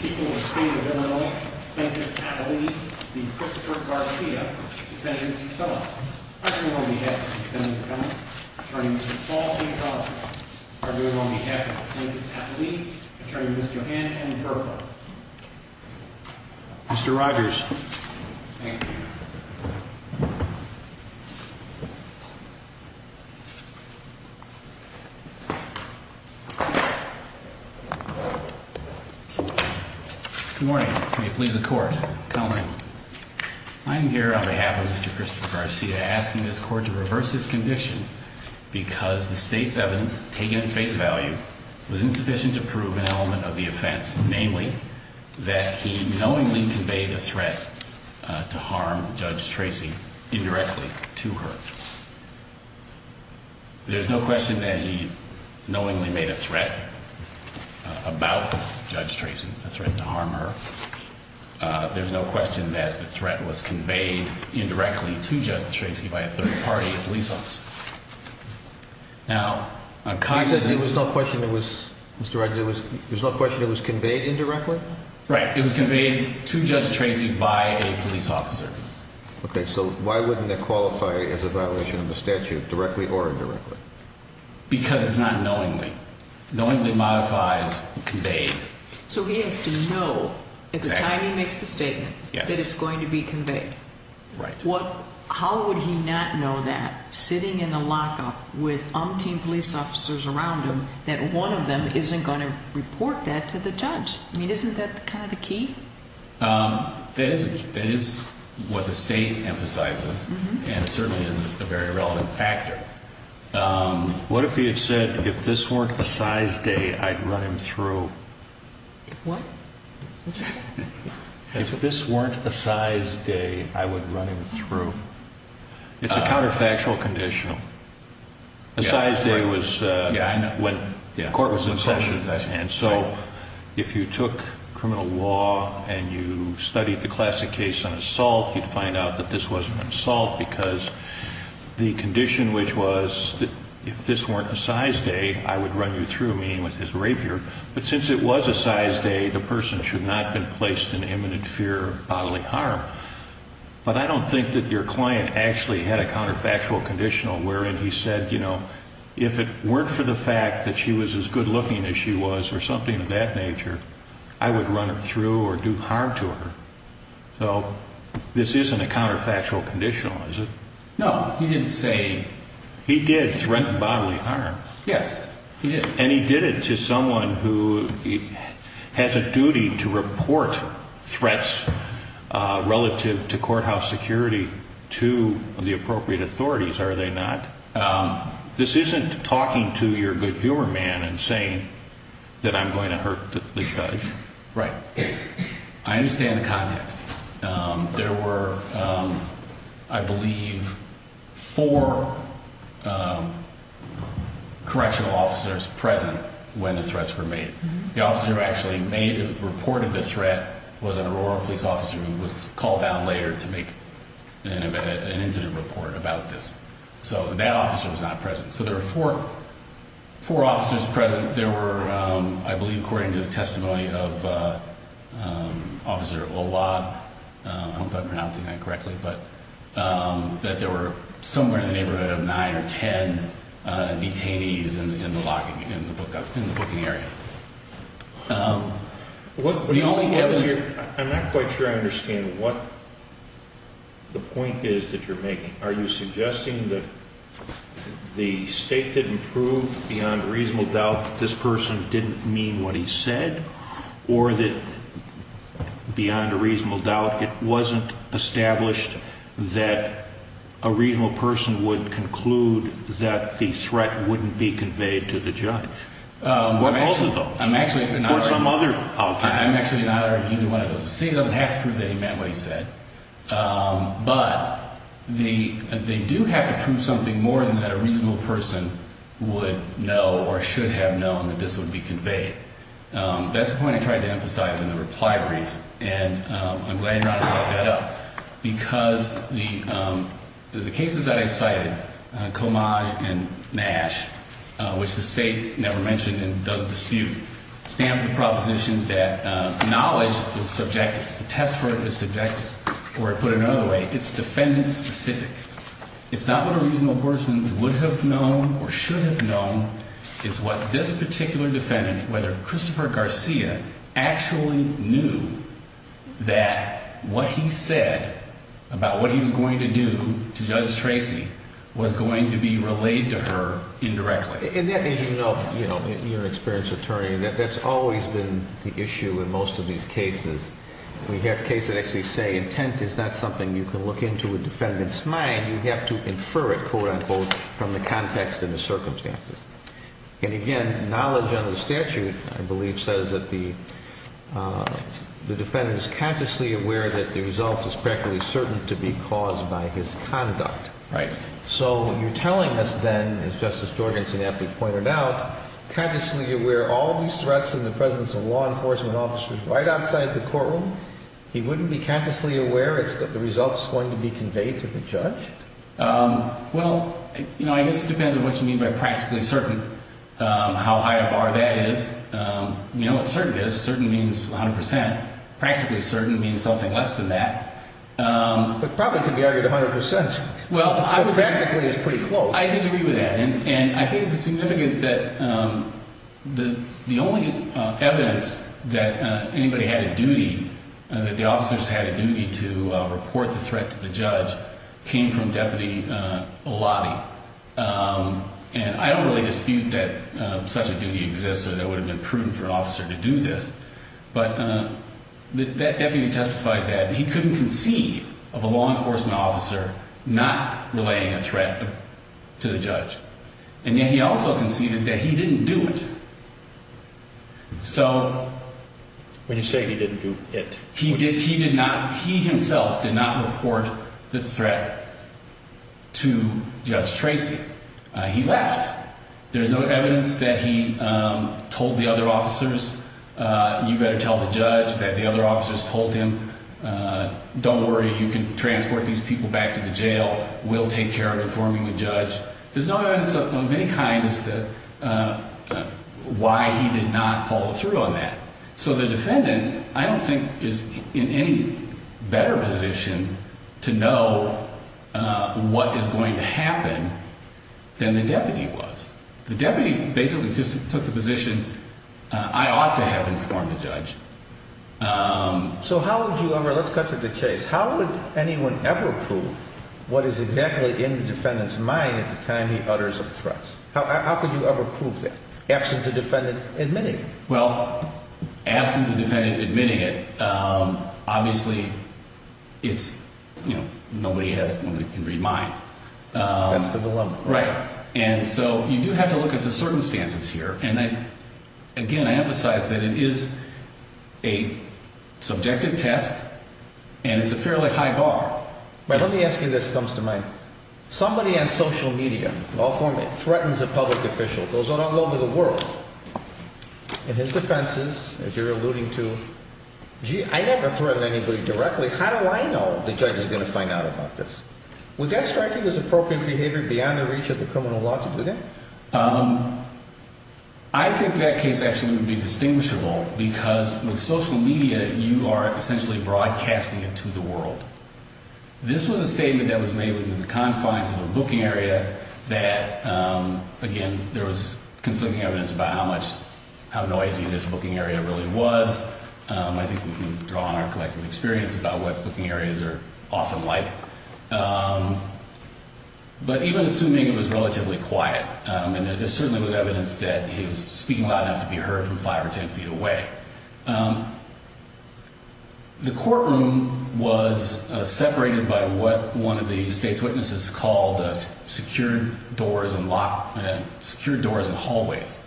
Keeping this state of Illinois. At the end of last year? Depending on the attorney missed the Illinois. Mr. Rogers. Thank you. Good morning. I'm here on behalf of the I'm here to address the defense. There's no question that he knowingly made a threat. There's no question that the threat was conveyed indirectly by a third party police officer. There's no question it was conveyed indirectly? It was conveyed by a police officer. Why wouldn't that qualify? Because it's not knowingly. A state officer always modifies conveyed. He has to know when he makes the statement it's going to be conveyed. How would he not know that? Isn't that kind of the key? That is what the state emphasizes. It certainly is a very relevant factor. What if he had said if this weren't a size day I'd run him through? What? If this weren't a size day I would run him through. It's a counterfactual condition. A size day was when the court was in session. If you took criminal law and studied the classic case on assault you'd find out this wasn't an assault because the condition which was if this weren't a size day I would run you through meaning with his rapier. Since it was a size day the person should not have been placed in imminent fear of bodily harm. I don't think your client actually had a counterfactual conditional wherein he said if it weren't for the fact that she was as good looking as she was or something of that nature I would run her through or do harm to her. So this isn't a counterfactual conditional is it? No, he didn't say He did threaten bodily harm. Yes, he did. And he did it to someone who has a duty to report threats relative to courthouse security to the appropriate authorities are they not? This isn't talking to your good humor man and saying that I'm going to hurt the judge. Right. I understand the context. There were I believe four correctional officers present when the threats were made. The officer who actually reported the threat was an Aurora police officer who was called out later to make an incident report about this. So that officer was not present. So there were four officers present. There were I believe according to the testimony of Officer Olad I hope I'm pronouncing that correctly that there were somewhere in the neighborhood of nine or ten detainees in the booking area. I'm not quite sure I understand what the point is that you're making. Are you suggesting that the state didn't prove beyond a reasonable doubt that this person didn't mean what he said or that beyond a reasonable doubt it wasn't established that a reasonable person would conclude that the threat wouldn't be conveyed to the judge? Or both of those? Or some other alternative? I'm actually not arguing either one of those. The state doesn't have to prove that he meant what he said. But they do have to prove something more than that a reasonable person would know or should have known that this would be conveyed. That's the point I tried to emphasize in the reply brief and I'm glad you brought that up. Because the cases that I cited, Comage and Nash, which the state never mentioned and doesn't dispute, stand for the proposition that knowledge is subjective. The test for it is subjective. Or to put it another way, it's defendant specific. It's not what a reasonable person would have known or should have known. It's what this particular defendant, whether Christopher Garcia, actually knew that what he said about what he was going to do to Judge Tracy was going to be relayed to her indirectly. And that, as you know, you're an experienced attorney and that's always been the issue in most of these cases. We have cases that actually say intent is not something you can look into a defendant's mind. You have to infer it, quote-unquote, from the context and the circumstances. And again, knowledge under the statute, I believe, says that the defendant is consciously aware that the result is practically certain to be caused by his conduct. So you're telling us then, as Justice Jorgensen aptly pointed out, consciously aware of all these threats and the presence of law enforcement officers right outside the courtroom, he wouldn't be consciously aware that the result is going to be conveyed to the judge? Well, I guess it depends on what you mean by practically certain, how high a bar that is. You know what certain is. Certain means 100%. Practically certain means something less than that. But probably it could be argued 100%, but practically is pretty close. I disagree with that. And I think it's significant that the only evidence that anybody had a duty, that the officers had a duty to report the threat to the judge, came from Deputy Olati. And I don't really dispute that such a duty exists or that it would have been prudent for an officer to do this, but that deputy testified that he couldn't conceive of a law enforcement officer not relaying a threat to the judge. And yet he also conceded that he didn't do it. So... When you say he didn't do it... He did not, he himself did not report the threat to Judge Tracy. He left. There's no evidence that he told the other officers, you better tell the judge that the other officers told him, don't worry, you can transport these people back to the jail. We'll take care of informing the judge. There's no evidence of any kind as to why he did not follow through on that. So the defendant, I don't think, is in any better position to know what is going to happen than the deputy was. The deputy basically just took the position, I ought to have informed the judge. So how would you ever... How could you ever prove what is exactly in the defendant's mind at the time he utters the threats? How could you ever prove that? Absent the defendant admitting it. Well, absent the defendant admitting it, obviously it's, you know, nobody has, nobody can read minds. That's the dilemma. Right. And so you do have to look at the circumstances here, and I... Again, I emphasize that it is a subjective test and it's a fairly high bar. But let me ask you, this comes to mind. Somebody on social media, in all forms, threatens a public official. It goes on all over the world. In his defenses, as you're alluding to, gee, I never threatened anybody directly. How do I know the judge is going to find out about this? Would that strike him as appropriate behavior beyond the reach of the criminal law to do that? Um... I think that case actually would be distinguishable because with social media, you're broadcasting it to the world. This was a statement that was made within the confines of a booking area that, again, there was conflicting evidence about how much, how noisy this booking area really was. I think we can draw on our collective experience about what booking areas are often like. Um... But even assuming it was relatively quiet, and there certainly was evidence that he was speaking loud enough to be heard from five or ten feet away. Um... The courtroom was separated by what one of the state's witnesses called secured doors and lock... secured doors and hallways.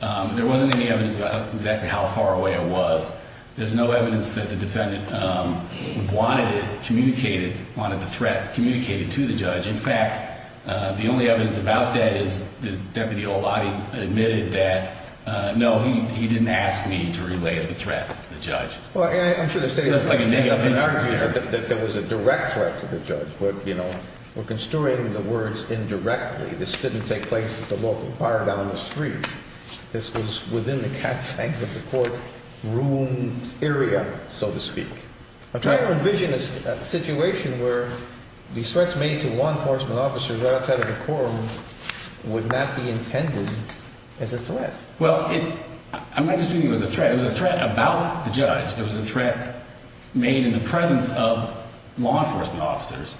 There wasn't any evidence about exactly how far away it was. There's no evidence that the defendant wanted it communicated, wanted the threat communicated to the judge. In fact, the only evidence about that is that Deputy Oladi admitted that, uh, no, he didn't ask me to relay the threat to the judge. Well, I'm sure the state... There was a direct threat to the judge, but, you know, we're construing the words indirectly. This didn't take place at the local bar down the street. This was within the confines of the court room area, so to speak. I'm trying to envision a situation where the threats made to law enforcement officers right outside of the courtroom would not be Well, it... I'm not just doing it as a threat. It was a threat about the judge. It was a threat made in the presence of law enforcement officers.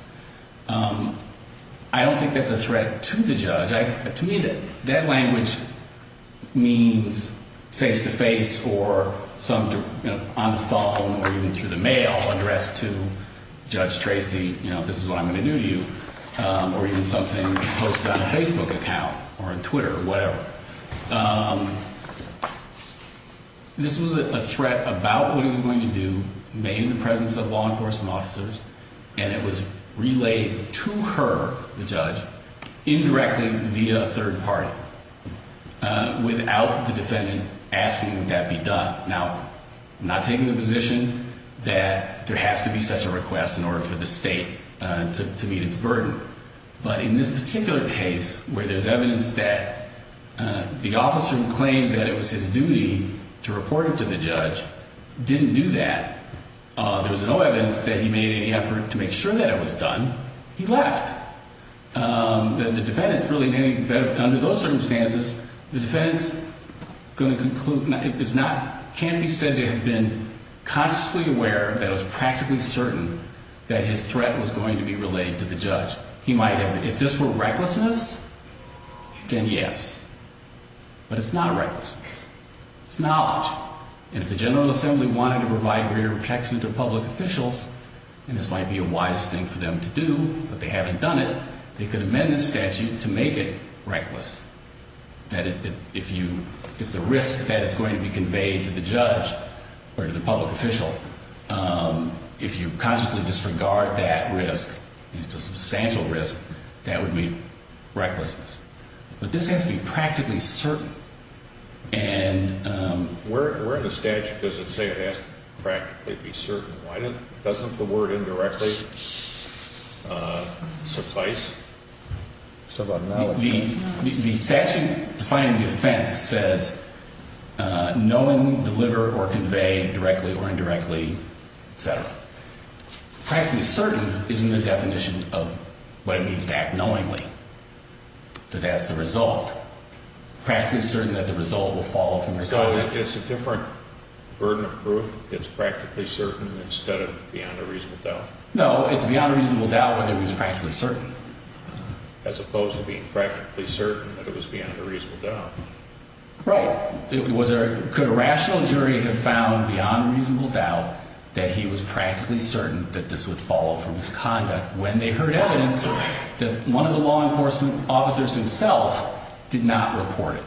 Um, I don't think that's a threat to the judge. To me, that language means face-to-face or on the phone or even through the mail addressed to Judge Tracy, you know, this is what I'm going to do to you. Um, or even something posted on a Facebook account or a Twitter or whatever. Um, this was a threat about what he was going to do made in the presence of law enforcement officers, and it was relayed to her, the judge, indirectly via a third party, uh, without the defendant asking that be done. Now, I'm not taking the position that there has to be such a request in order for the state to meet its burden, but in this particular case where there's evidence that the officer who claimed that it was his duty to report it to the judge didn't do that. Uh, there was no evidence that he made any effort to make sure that it was done. He left. Um, the defendant's really made better, under those circumstances, the defendant's going to conclude, it's not, can't be said to have been consciously aware that it was practically certain that his threat was going to be relayed to the judge. He might have, if this were recklessness, then yes. But it's not recklessness. It's knowledge. And if the General Assembly wanted to provide greater protection to public officials, and this might be a wise thing for them to do, but they haven't done it, they could amend the statute to make it reckless. That it, if you, if the risk that is going to be conveyed to the judge, or to the public official, um, if you consciously disregard that risk, and it's a substantial risk, that would be recklessness. But this has to be practically certain. And, um, where, where in the statute does it say it has to practically be certain? Why doesn't, doesn't the word indirectly, uh, suffice? The, the statute defining the offense says, uh, knowing deliver or convey directly or indirectly, et cetera. Practically certain isn't the definition of what it means to act knowingly. That that's the result. Practically certain that the result will follow from the result. So it's a different burden of proof? It's practically certain instead of beyond a reasonable doubt? No, it's beyond a reasonable doubt whether it was practically certain. As opposed to being practically certain that it was beyond a reasonable doubt. Right. It was a, could a rational jury have found beyond a reasonable doubt that he was practically certain that this would follow from his conduct when they heard evidence that one of the law enforcement officers himself did not report it.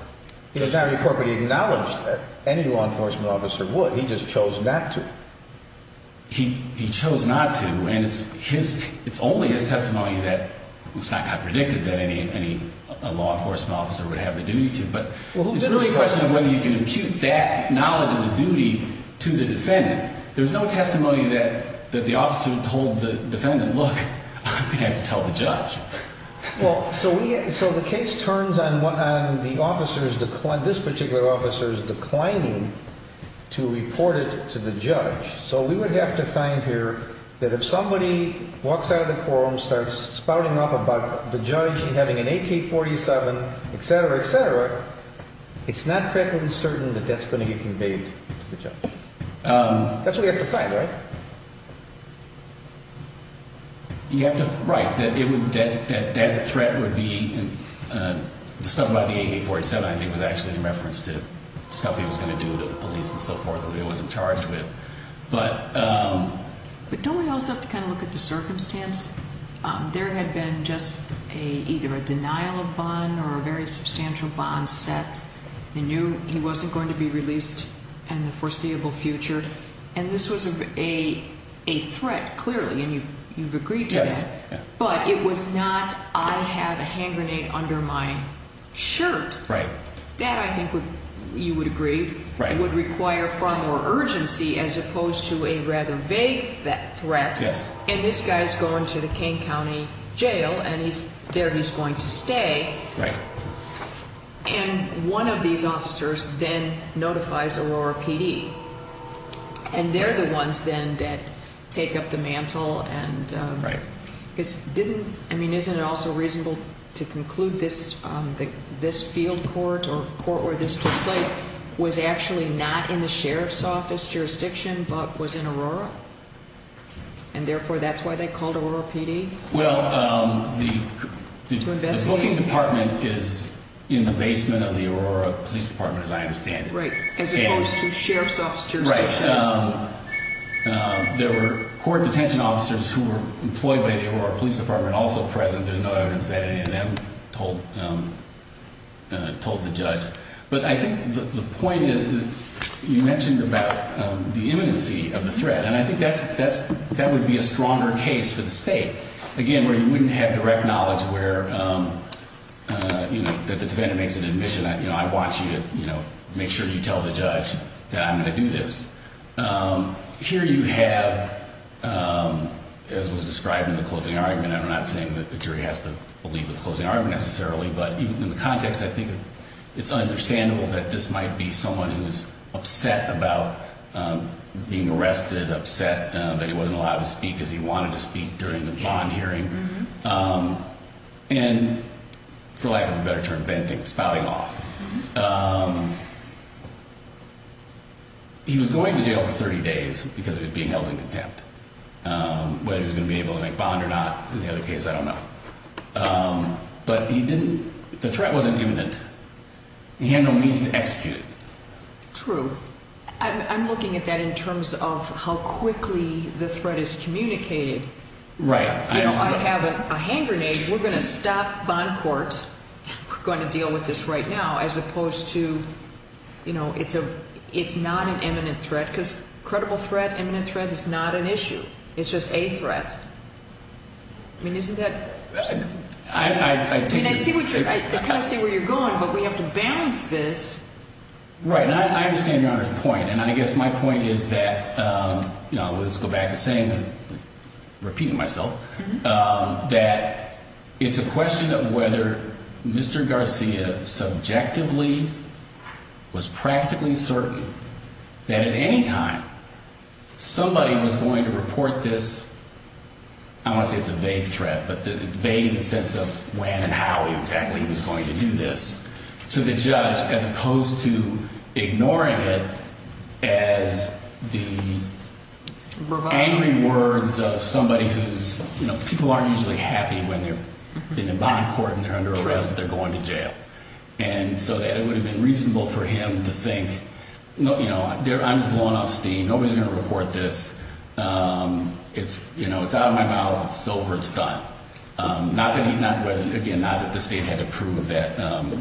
He did not report, but he acknowledged that any law enforcement officer would. He just chose not to. He, he chose not to. And it's his, it's only his testimony that it's not predicted that any, any law enforcement officer would have the duty to. But it's really a question of whether you can impute that knowledge of the duty to the defendant. There's no testimony that the officer told the defendant, look, I'm going to have to tell the judge. Well, so we, so the case turns on what, on the officers, this particular officer's declining to report it to the judge. So we would have to find here that if somebody walks out of the courtroom, starts spouting off about the judge having an AK-47, et cetera, et cetera, it's not perfectly certain that that's going to get conveyed to the judge. That's what we have to find, right? You have to, right, that it would, that, that threat would be the stuff about the AK-47 I think was actually in reference to stuff he was going to do to the police and so forth that he wasn't charged with. But But don't we also have to kind of look at the circumstance? There had been just a, either a denial of bond or a substantial bond set. He knew he wasn't going to be released in the foreseeable future. And this was a threat, clearly, and you've agreed to that. But it was not I have a hand grenade under my shirt. That I think would, you would agree, would require far more urgency as opposed to a rather vague threat. And this guy's going to the Kane County Jail and he's, there he's And one of these officers then notifies Aurora PD. And they're the ones then that take up the mantle and Right. Because didn't, I mean, isn't it also reasonable to conclude this, this field court or court where this took place was actually not in the Sheriff's Office jurisdiction but was in Aurora? And therefore that's why they called Aurora PD? Well, the booking department is in the basement of the Aurora Police Department as I understand it. Right. As opposed to Sheriff's Office jurisdiction? Right. There were court detention officers who were employed by the Aurora Police Department also present. There's no evidence that any of them told told the judge. But I think the point is that you mentioned about the imminency of the threat. And I think that's, that would be a stronger case for the state. Again, where you wouldn't have direct knowledge where you know, that the defendant makes an admission, you know, I want you to make sure you tell the judge that I'm going to do this. Here you have as was described in the closing argument, and I'm not saying that the jury has to believe the closing argument necessarily, but in the context I think it's understandable that this might be someone who's upset about being arrested, upset that he wasn't allowed to speak because he wanted to speak during the bond hearing. And for lack of a better term, spouting off. He was going to jail for 30 days because he was being held in contempt. Whether he was going to be able to make bond or not in the other case, I don't know. But he didn't, the threat wasn't imminent. He had no means to execute it. True. I'm looking at that in terms of how quickly the threat is communicated. Right. I have a hand grenade. We're going to stop bond court. We're going to deal with this right now as opposed to you know, it's not an imminent threat because credible threat, imminent threat is not an issue. It's just a threat. I mean, isn't that... I mean, I see what you're... I kind of see where you're going, but we have to balance this. Right. I understand Your Honor's point, and I guess my point is that, you know, let's go back to saying, repeating myself, that it's a question of whether Mr. Garcia subjectively was practically certain that at any time somebody was going to report this, I don't want to say it's a vague threat, but vague in the sense of when and how exactly he was going to do this to the judge as opposed to ignoring it as the angry words of somebody who's, you know, people aren't usually happy when they've been in bond court and they're under arrest and they're going to jail. And so that it would have been reasonable for him to think, you know, I'm just blowing off steam, nobody's going to report this. It's out of my mouth, it's over, it's done. Again, not that the state had to prove that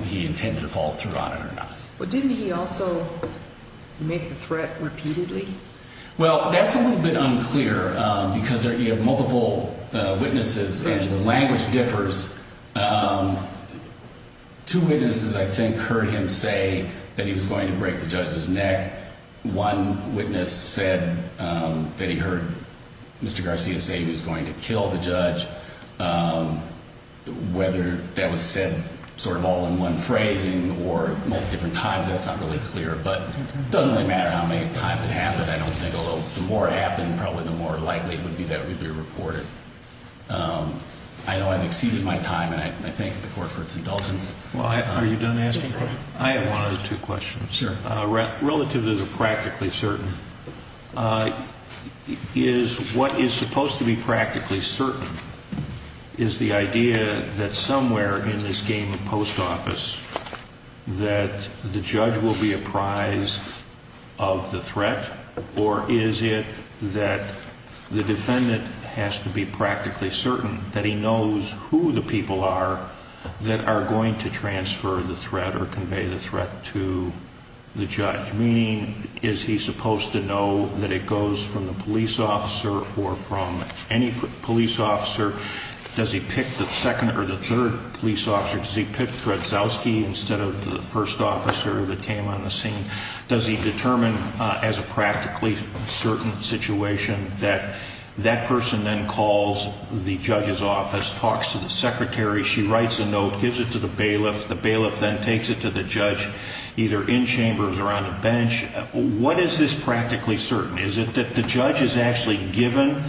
he intended to follow through on it But didn't he also make the threat repeatedly? Well, that's a little bit unclear because you have multiple witnesses and the language differs. Two witnesses I think heard him say that he was going to break the judge's neck. One witness said that he heard Mr. Garcia say he was going to kill the judge. Whether that was said sort of all in one phrasing or at different times, that's not really clear, but it doesn't really matter how many times it happened. I don't think, although the more it happened, probably the more likely it would be that it would be reported. I know I've exceeded my time and I thank the court for its indulgence. I have one or two questions. Relative to the practically certain, is what is supposed to be practically certain is the idea that somewhere in this game of post office that the judge will be apprised of the threat or is it that the defendant has to be practically certain that he knows who the people are that are going to transfer the threat or convey the threat to the judge? Meaning, is he supposed to know that it goes from the police officer or from any police officer? Does he pick the second or the third police officer? Does he pick Trudzowski instead of the first officer that came on the scene? Does he determine as a practically certain situation that that person then calls the judge's office, talks to the secretary, she writes a note, gives it to the bailiff, the bailiff then takes it to the judge, either in chambers or on the bench. What is this practically certain? Is it that the judge is actually given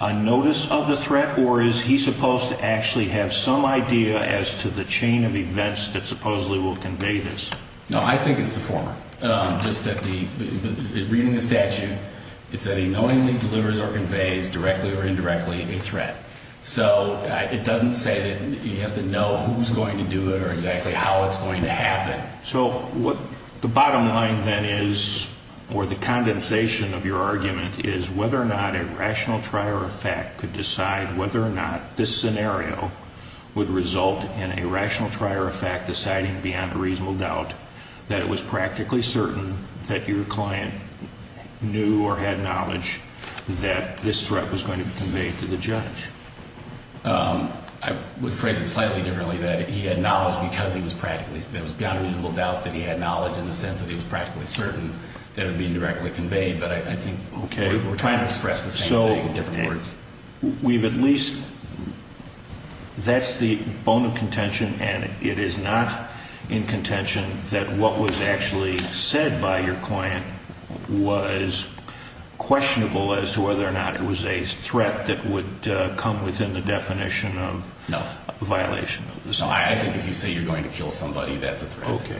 a notice of the threat or is he supposed to actually have some idea as to the chain of events that supposedly will convey this? No, I think it's the former. Just that reading the statute is that he knowingly delivers or conveys, directly or indirectly, a threat. So it doesn't say that he has to know who's going to do it or exactly how it's going to happen. So what the bottom line then is or the condensation of your argument is whether or not a rational try or effect could decide whether or not this scenario would result in a rational try or effect deciding beyond a reasonable doubt that it was practically certain that your client knew or had knowledge that this threat was going to be conveyed to the judge. I would phrase it slightly differently, that he had knowledge because he was practically beyond a reasonable doubt that he had knowledge in the sense that he was practically certain that it would be directly conveyed, but I think we're trying to express the same thing in different words. So we've at least that's the bone of contention and it is not in contention that what was actually said by your client was questionable as to whether or not it was a threat that would come within the definition of a violation of the statute. No, I think if you say you're going to kill somebody, that's a threat. Okay.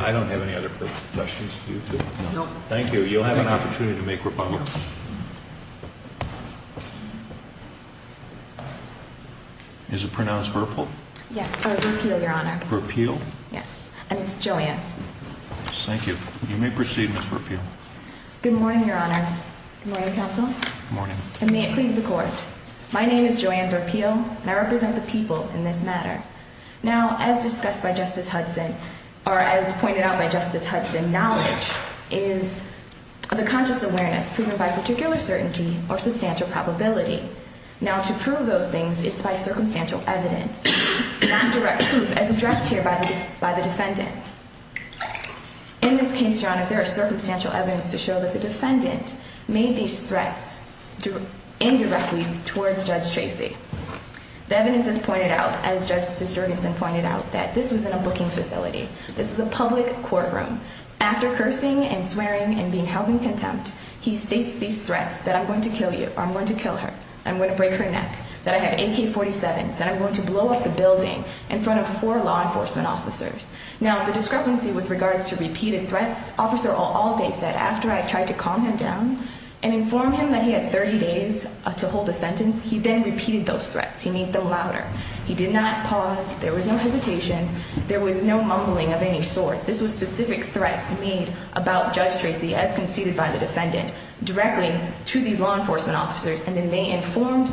I don't have any other questions for you two. Thank you. You'll have an opportunity to make rebuttal. Is it pronounced Virpil? Yes, or Virpil, Your Honor. Virpil? Yes. And it's Joanne. Thank you. You may proceed, Ms. Virpil. Good morning, Your Honors. Good morning, Counsel. Good morning. And may it please the Court. My name is Joanne Virpil and I represent the people in this matter. Now, as discussed by Justice Hudson or as pointed out by Justice Hudson, knowledge is the conscious awareness proven by particular certainty or substantial probability. Now, to prove those things it's by circumstantial evidence, not direct proof as addressed here by the defendant. In this case, Your Honors, there is circumstantial evidence to show that the defendant made these threats indirectly towards Judge Tracy. The evidence is pointed out, as Justice Jurgensen pointed out, that this was in a booking facility. This is a public courtroom. After cursing and swearing and being held in contempt, he states these threats, that I'm going to kill you, or I'm going to kill her, I'm going to break her neck, that I have AK-47s, that I'm going to blow up the building in front of four law enforcement officers. Now, the discrepancy with regards to repeated threats, Officer all day said, after I tried to calm him down and inform him that he had 30 days to hold a sentence, he then repeated those threats. He made them louder. He did not pause. There was no hesitation. There was no mumbling of any sort. This was specific threats made about Judge Tracy, as conceded by the defendant, directly to these law enforcement officers, and then they informed,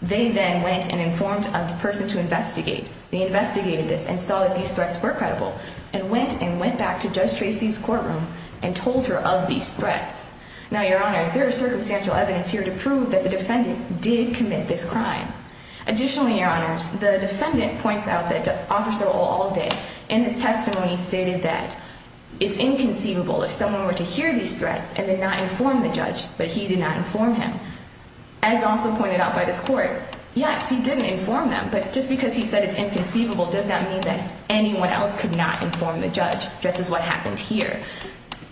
they then went and informed a person to investigate. They investigated this and saw that these threats were credible, and went and went back to Judge Tracy's courtroom and told her of these threats. Now, Your Honors, there is circumstantial evidence here to prove that the defendant did commit this crime. Additionally, Your Honors, the defendant points out that Officer Old All Day, in his testimony, stated that it's inconceivable if someone were to hear these threats and did not inform the judge, but he did not inform him. As also pointed out by this court, yes, he didn't inform them, but just because he said it's inconceivable does not mean that anyone else could not inform the judge, just as what happened here.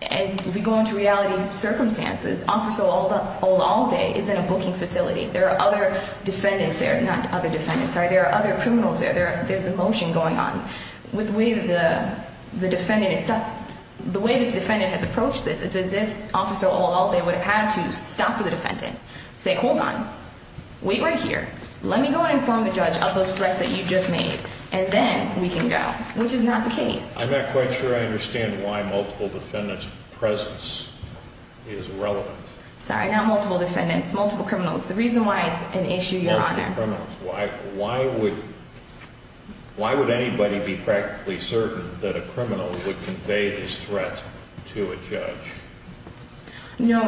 And if we go into reality circumstances, Officer Old All Day is in a booking facility. There are other defendants there, not other defendants, sorry, there are other criminals there, there's a motion going on. With the way that the defendant is stopped, the way the defendant has approached this, it's as if Officer Old All Day would have had to stop the defendant, say, hold on, wait right here, let me go and inform the judge of those threats that you just made, and then we can go, which is not the case. I'm not quite sure I understand why multiple defendants' presence is relevant. Sorry, not multiple defendants, multiple criminals. The reason why it's an issue, Your Honor. Why would anybody be practically certain that a criminal would convey these threats to a judge? No,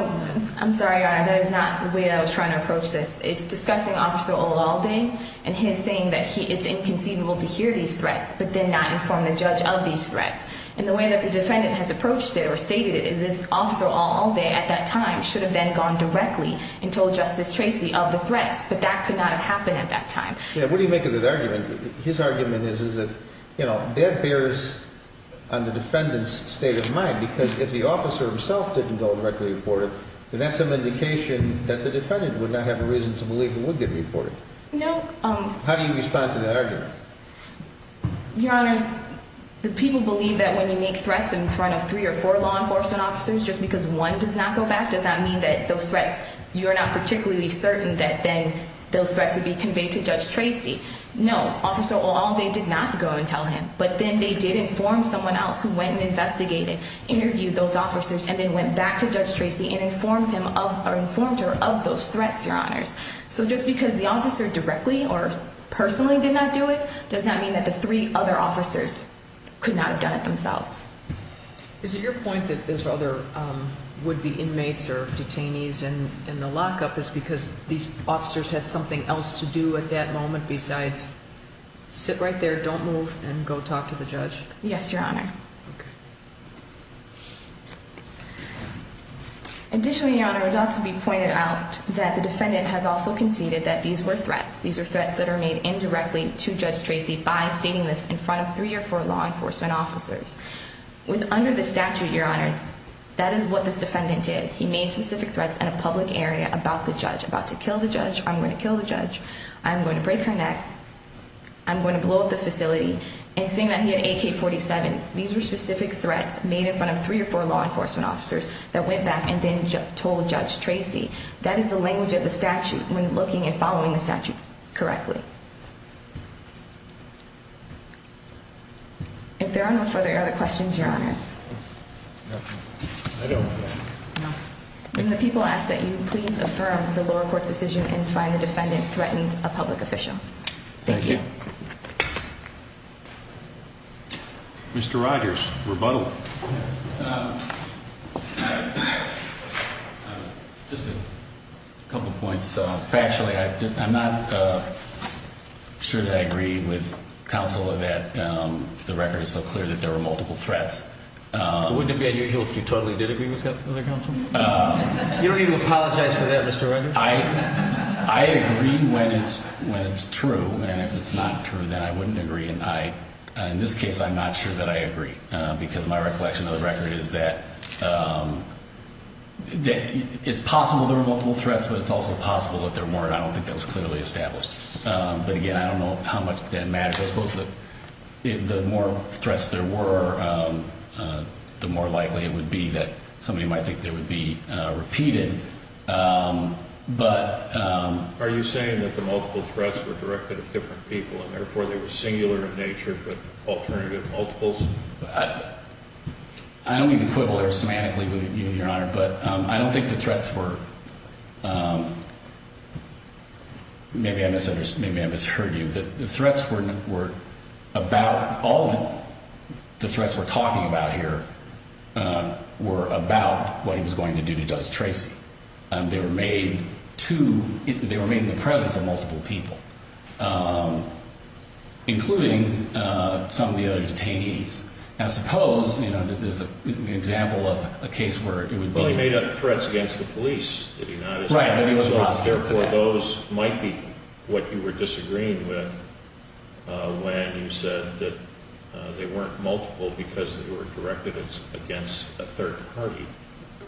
I'm sorry, Your Honor, that is not the way I was trying to approach this. It's discussing Officer Old All Day and his saying that it's inconceivable to hear these threats, but then not inform the judge of these threats. And the way that the defendant has approached it or stated it is if he had been informed, he should have then gone directly and told Justice Tracy of the threats, but that could not have happened at that time. Yeah, what do you make of that argument? His argument is that, you know, that bears on the defendant's state of mind, because if the officer himself didn't go and directly report it, then that's an indication that the defendant would not have a reason to believe it would get reported. No. How do you respond to that argument? Your Honor, the people believe that when you make threats in front of three or four law enforcement officers, just because one does not go back does not mean that those threats, you are not particularly certain that then those threats would be conveyed to Judge Tracy. No. Officer Old All Day did not go and tell him, but then they did inform someone else who went and investigated, interviewed those officers, and then went back to Judge Tracy and informed her of those threats, Your Honors. So just because the officer directly or personally did not do it does not mean that the three other officers could not have done it themselves. Is it your point that there's other would-be inmates or detainees in the lockup is because these officers had something else to do at that moment besides sit right there, don't move, and go talk to the judge? Yes, Your Honor. Additionally, Your Honor, it ought to be pointed out that the defendant has also conceded that these were threats. These are threats that are made indirectly to Judge Tracy by stating this in front of three or four law enforcement officers. Under the statute, Your Honors, that is what this defendant did. He made specific threats in a public area about the judge, about to kill the judge, I'm going to kill the judge, I'm going to break her neck, I'm going to blow up the facility, and saying that he had AK-47s. These were specific threats made in front of three or four law enforcement officers that went back and then told Judge Tracy. That is the language of the statute when looking and following the statute correctly. If there are no further questions, Your Honors. When the people ask that you please affirm the lower court's decision and find the defendant threatened a public official. Thank you. Mr. Rogers, rebuttal. Just a couple points. Factually, I'm not sure that I agree with counsel that the record is so clear that there were multiple threats. Wouldn't it be unusual if you totally did agree with counsel? You don't even apologize for that, Mr. Rogers. I agree when it's true, and if it's not true, then I wouldn't agree. In this case, I'm not sure that I agree because my recollection of the record is that it's possible there were multiple threats, but it's also possible that there weren't. I don't think that was clearly established. But again, I don't know how much that matters. I suppose that the more threats there were, the more likely it would be that somebody might think they would be repeated. But... Are you saying that the multiple threats were directed at different people and therefore they were singular in nature but alternative multiples? I don't mean to quibble there semantically with you, Your Honor, but I don't think the threats were... Maybe I misheard you. The threats were about... All the threats we're talking about here were about what he was going to do to Judge Tracy. They were made in the presence of multiple people, including some of the other detainees. Now suppose... There's an example of a case where it would be... So therefore those might be what you were disagreeing with when you said that they weren't multiple because they were directed against a third party.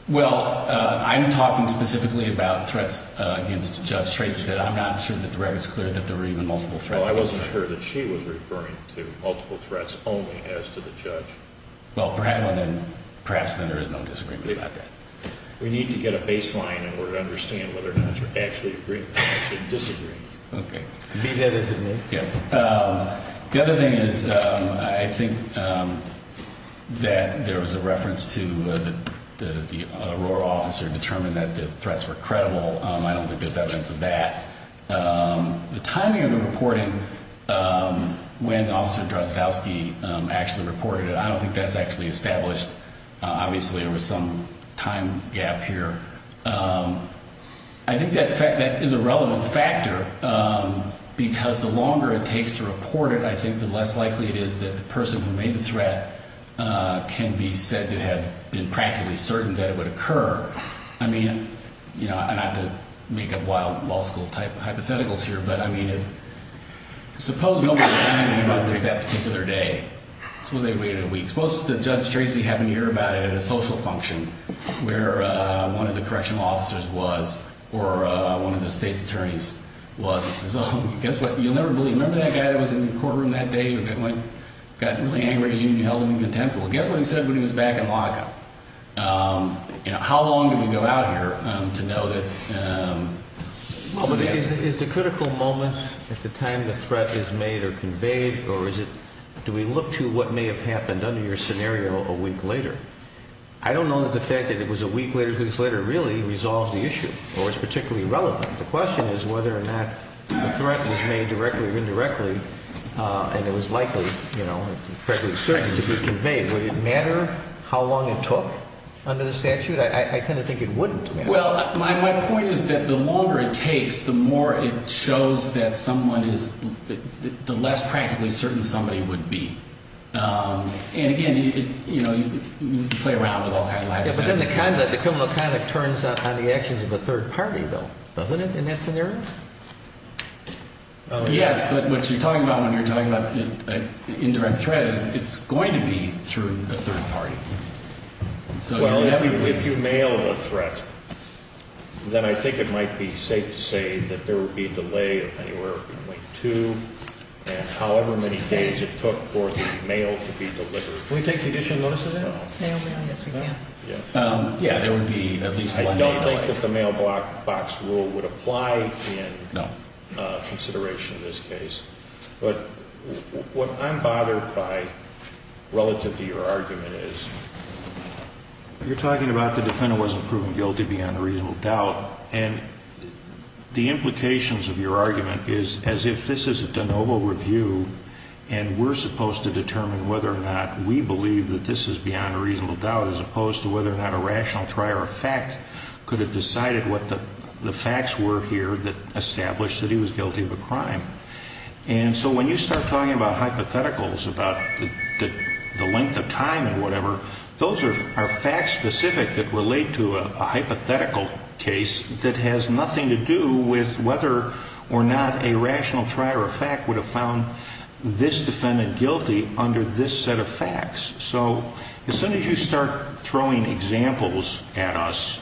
Well, I'm talking specifically about threats against Judge Tracy but I'm not sure that the record's clear that there were even multiple threats against her. Well, I wasn't sure that she was referring to multiple threats only as to the judge. Well, perhaps then there is no disagreement about that. We need to get a baseline in order to understand whether or not you're actually disagreeing. Okay. The other thing is I think that there was a reference to the Aurora officer determined that the threats were credible. I don't think there's evidence of that. The timing of the reporting when Officer Drozdowski actually reported it, I don't think that's actually established. Obviously there was some time gap here. I think that is a relevant factor because the longer it takes to report it, I think the less likely it is that the person who made the threat can be said to have been practically certain that it would occur. I mean, not to make up wild law school-type hypotheticals here, but I mean suppose nobody was telling you about this that particular day. Suppose they waited a week. Suppose Judge Tracy happened to hear about it at a social function where one of the correctional officers was or one of the state's attorneys was. Remember that guy that was in the courtroom that day that got really angry and you held him in contempt? Well, guess what he said when he was back in lockup? How long do we go out here to know that... Is the critical moment at the time the threat is made or conveyed or is it... Do we look to what may have happened under your scenario a week later? I don't know that the fact that it was a week later, two weeks later, really resolves the issue or is particularly relevant. The question is whether or not the threat was made directly or indirectly and it was likely, you know, practically certain to be conveyed. Would it matter how long it took under the statute? I tend to think it wouldn't matter. Well, my point is that the longer it takes, the more it shows that someone is... the less practically certain somebody would be. And again, you know, you can play around with all kinds of... Yeah, but then the criminal conduct turns on the actions of a third party though, doesn't it, in that scenario? Yes, but what you're talking about when you're talking about indirect threat is it's going to be through a third party. Well, if you mail a threat, then I think it might be safe to say that there would be a delay of anywhere between two and however many days it took for the mail to be delivered. Can we take condition notice of that? Yes, we can. Yeah, there would be at least one mail delay. I don't think that the mailbox rule would apply in consideration of this case, but what I'm bothered by relative to your argument is you're talking about the defendant wasn't proven guilty beyond a reasonable doubt and the implications of your argument is as if this is a de novo review and we're supposed to determine whether or not we believe that this is beyond a reasonable doubt as opposed to whether or not a rational try or a fact could have decided what the facts were here that established that he was guilty of a crime. And so when you start talking about hypotheticals about the length of time and whatever, those are facts specific that relate to a hypothetical case that has nothing to do with whether or not a rational try or a fact would have found this defendant guilty under this set of facts. So as soon as you start throwing examples at us,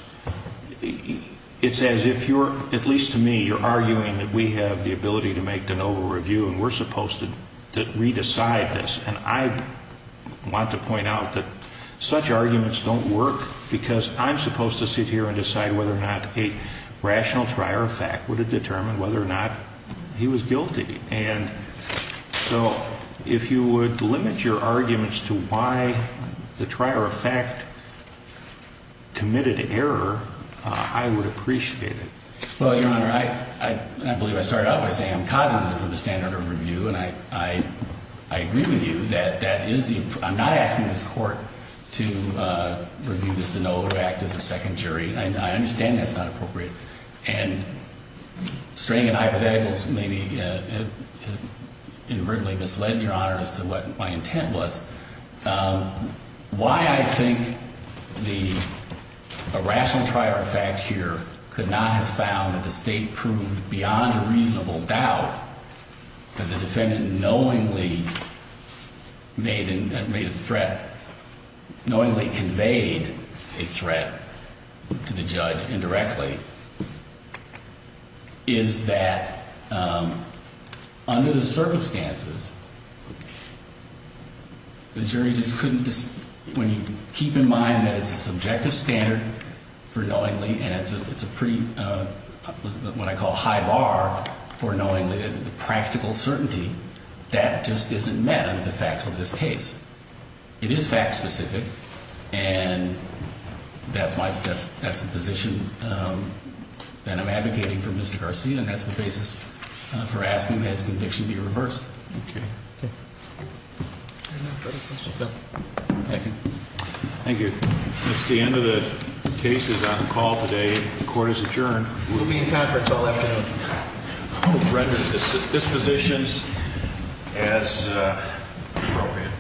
it's as if you're, at least to me, you're arguing that we have the ability to make de novo review and we're supposed to re-decide this. And I want to point out that such arguments don't work because I'm supposed to sit here and decide whether or not a rational try or a fact would have determined whether or not he was guilty. And so if you would limit your arguments to why the try or a fact committed error, I would appreciate it. Well, Your Honor, I believe I started out by saying I'm cognizant of the standard of review and I agree with you that that is the I'm not asking this Court to review this de novo or act as a second jury. I understand that's not appropriate. And straying in hypotheticals may be inadvertently misled, Your Honor, as to what my intent was. Why I think the irrational try or a fact here could not have found that the State proved beyond a reasonable doubt that the defendant knowingly made a threat, knowingly conveyed a threat to the judge indirectly is that under the circumstances the jury just couldn't when you keep in mind that it's a subjective standard for knowingly and it's a pretty what I call high bar for knowingly, the practical certainty that just isn't met under the facts of this case. It is fact specific and that's my position that I'm advocating for Mr. Garcia and that's the basis for asking that his conviction be reversed. Okay. Thank you. Thank you. It's the end of the case is on call today. The Court is adjourned. We'll be in conference all afternoon. I hope it renders dispositions as appropriate.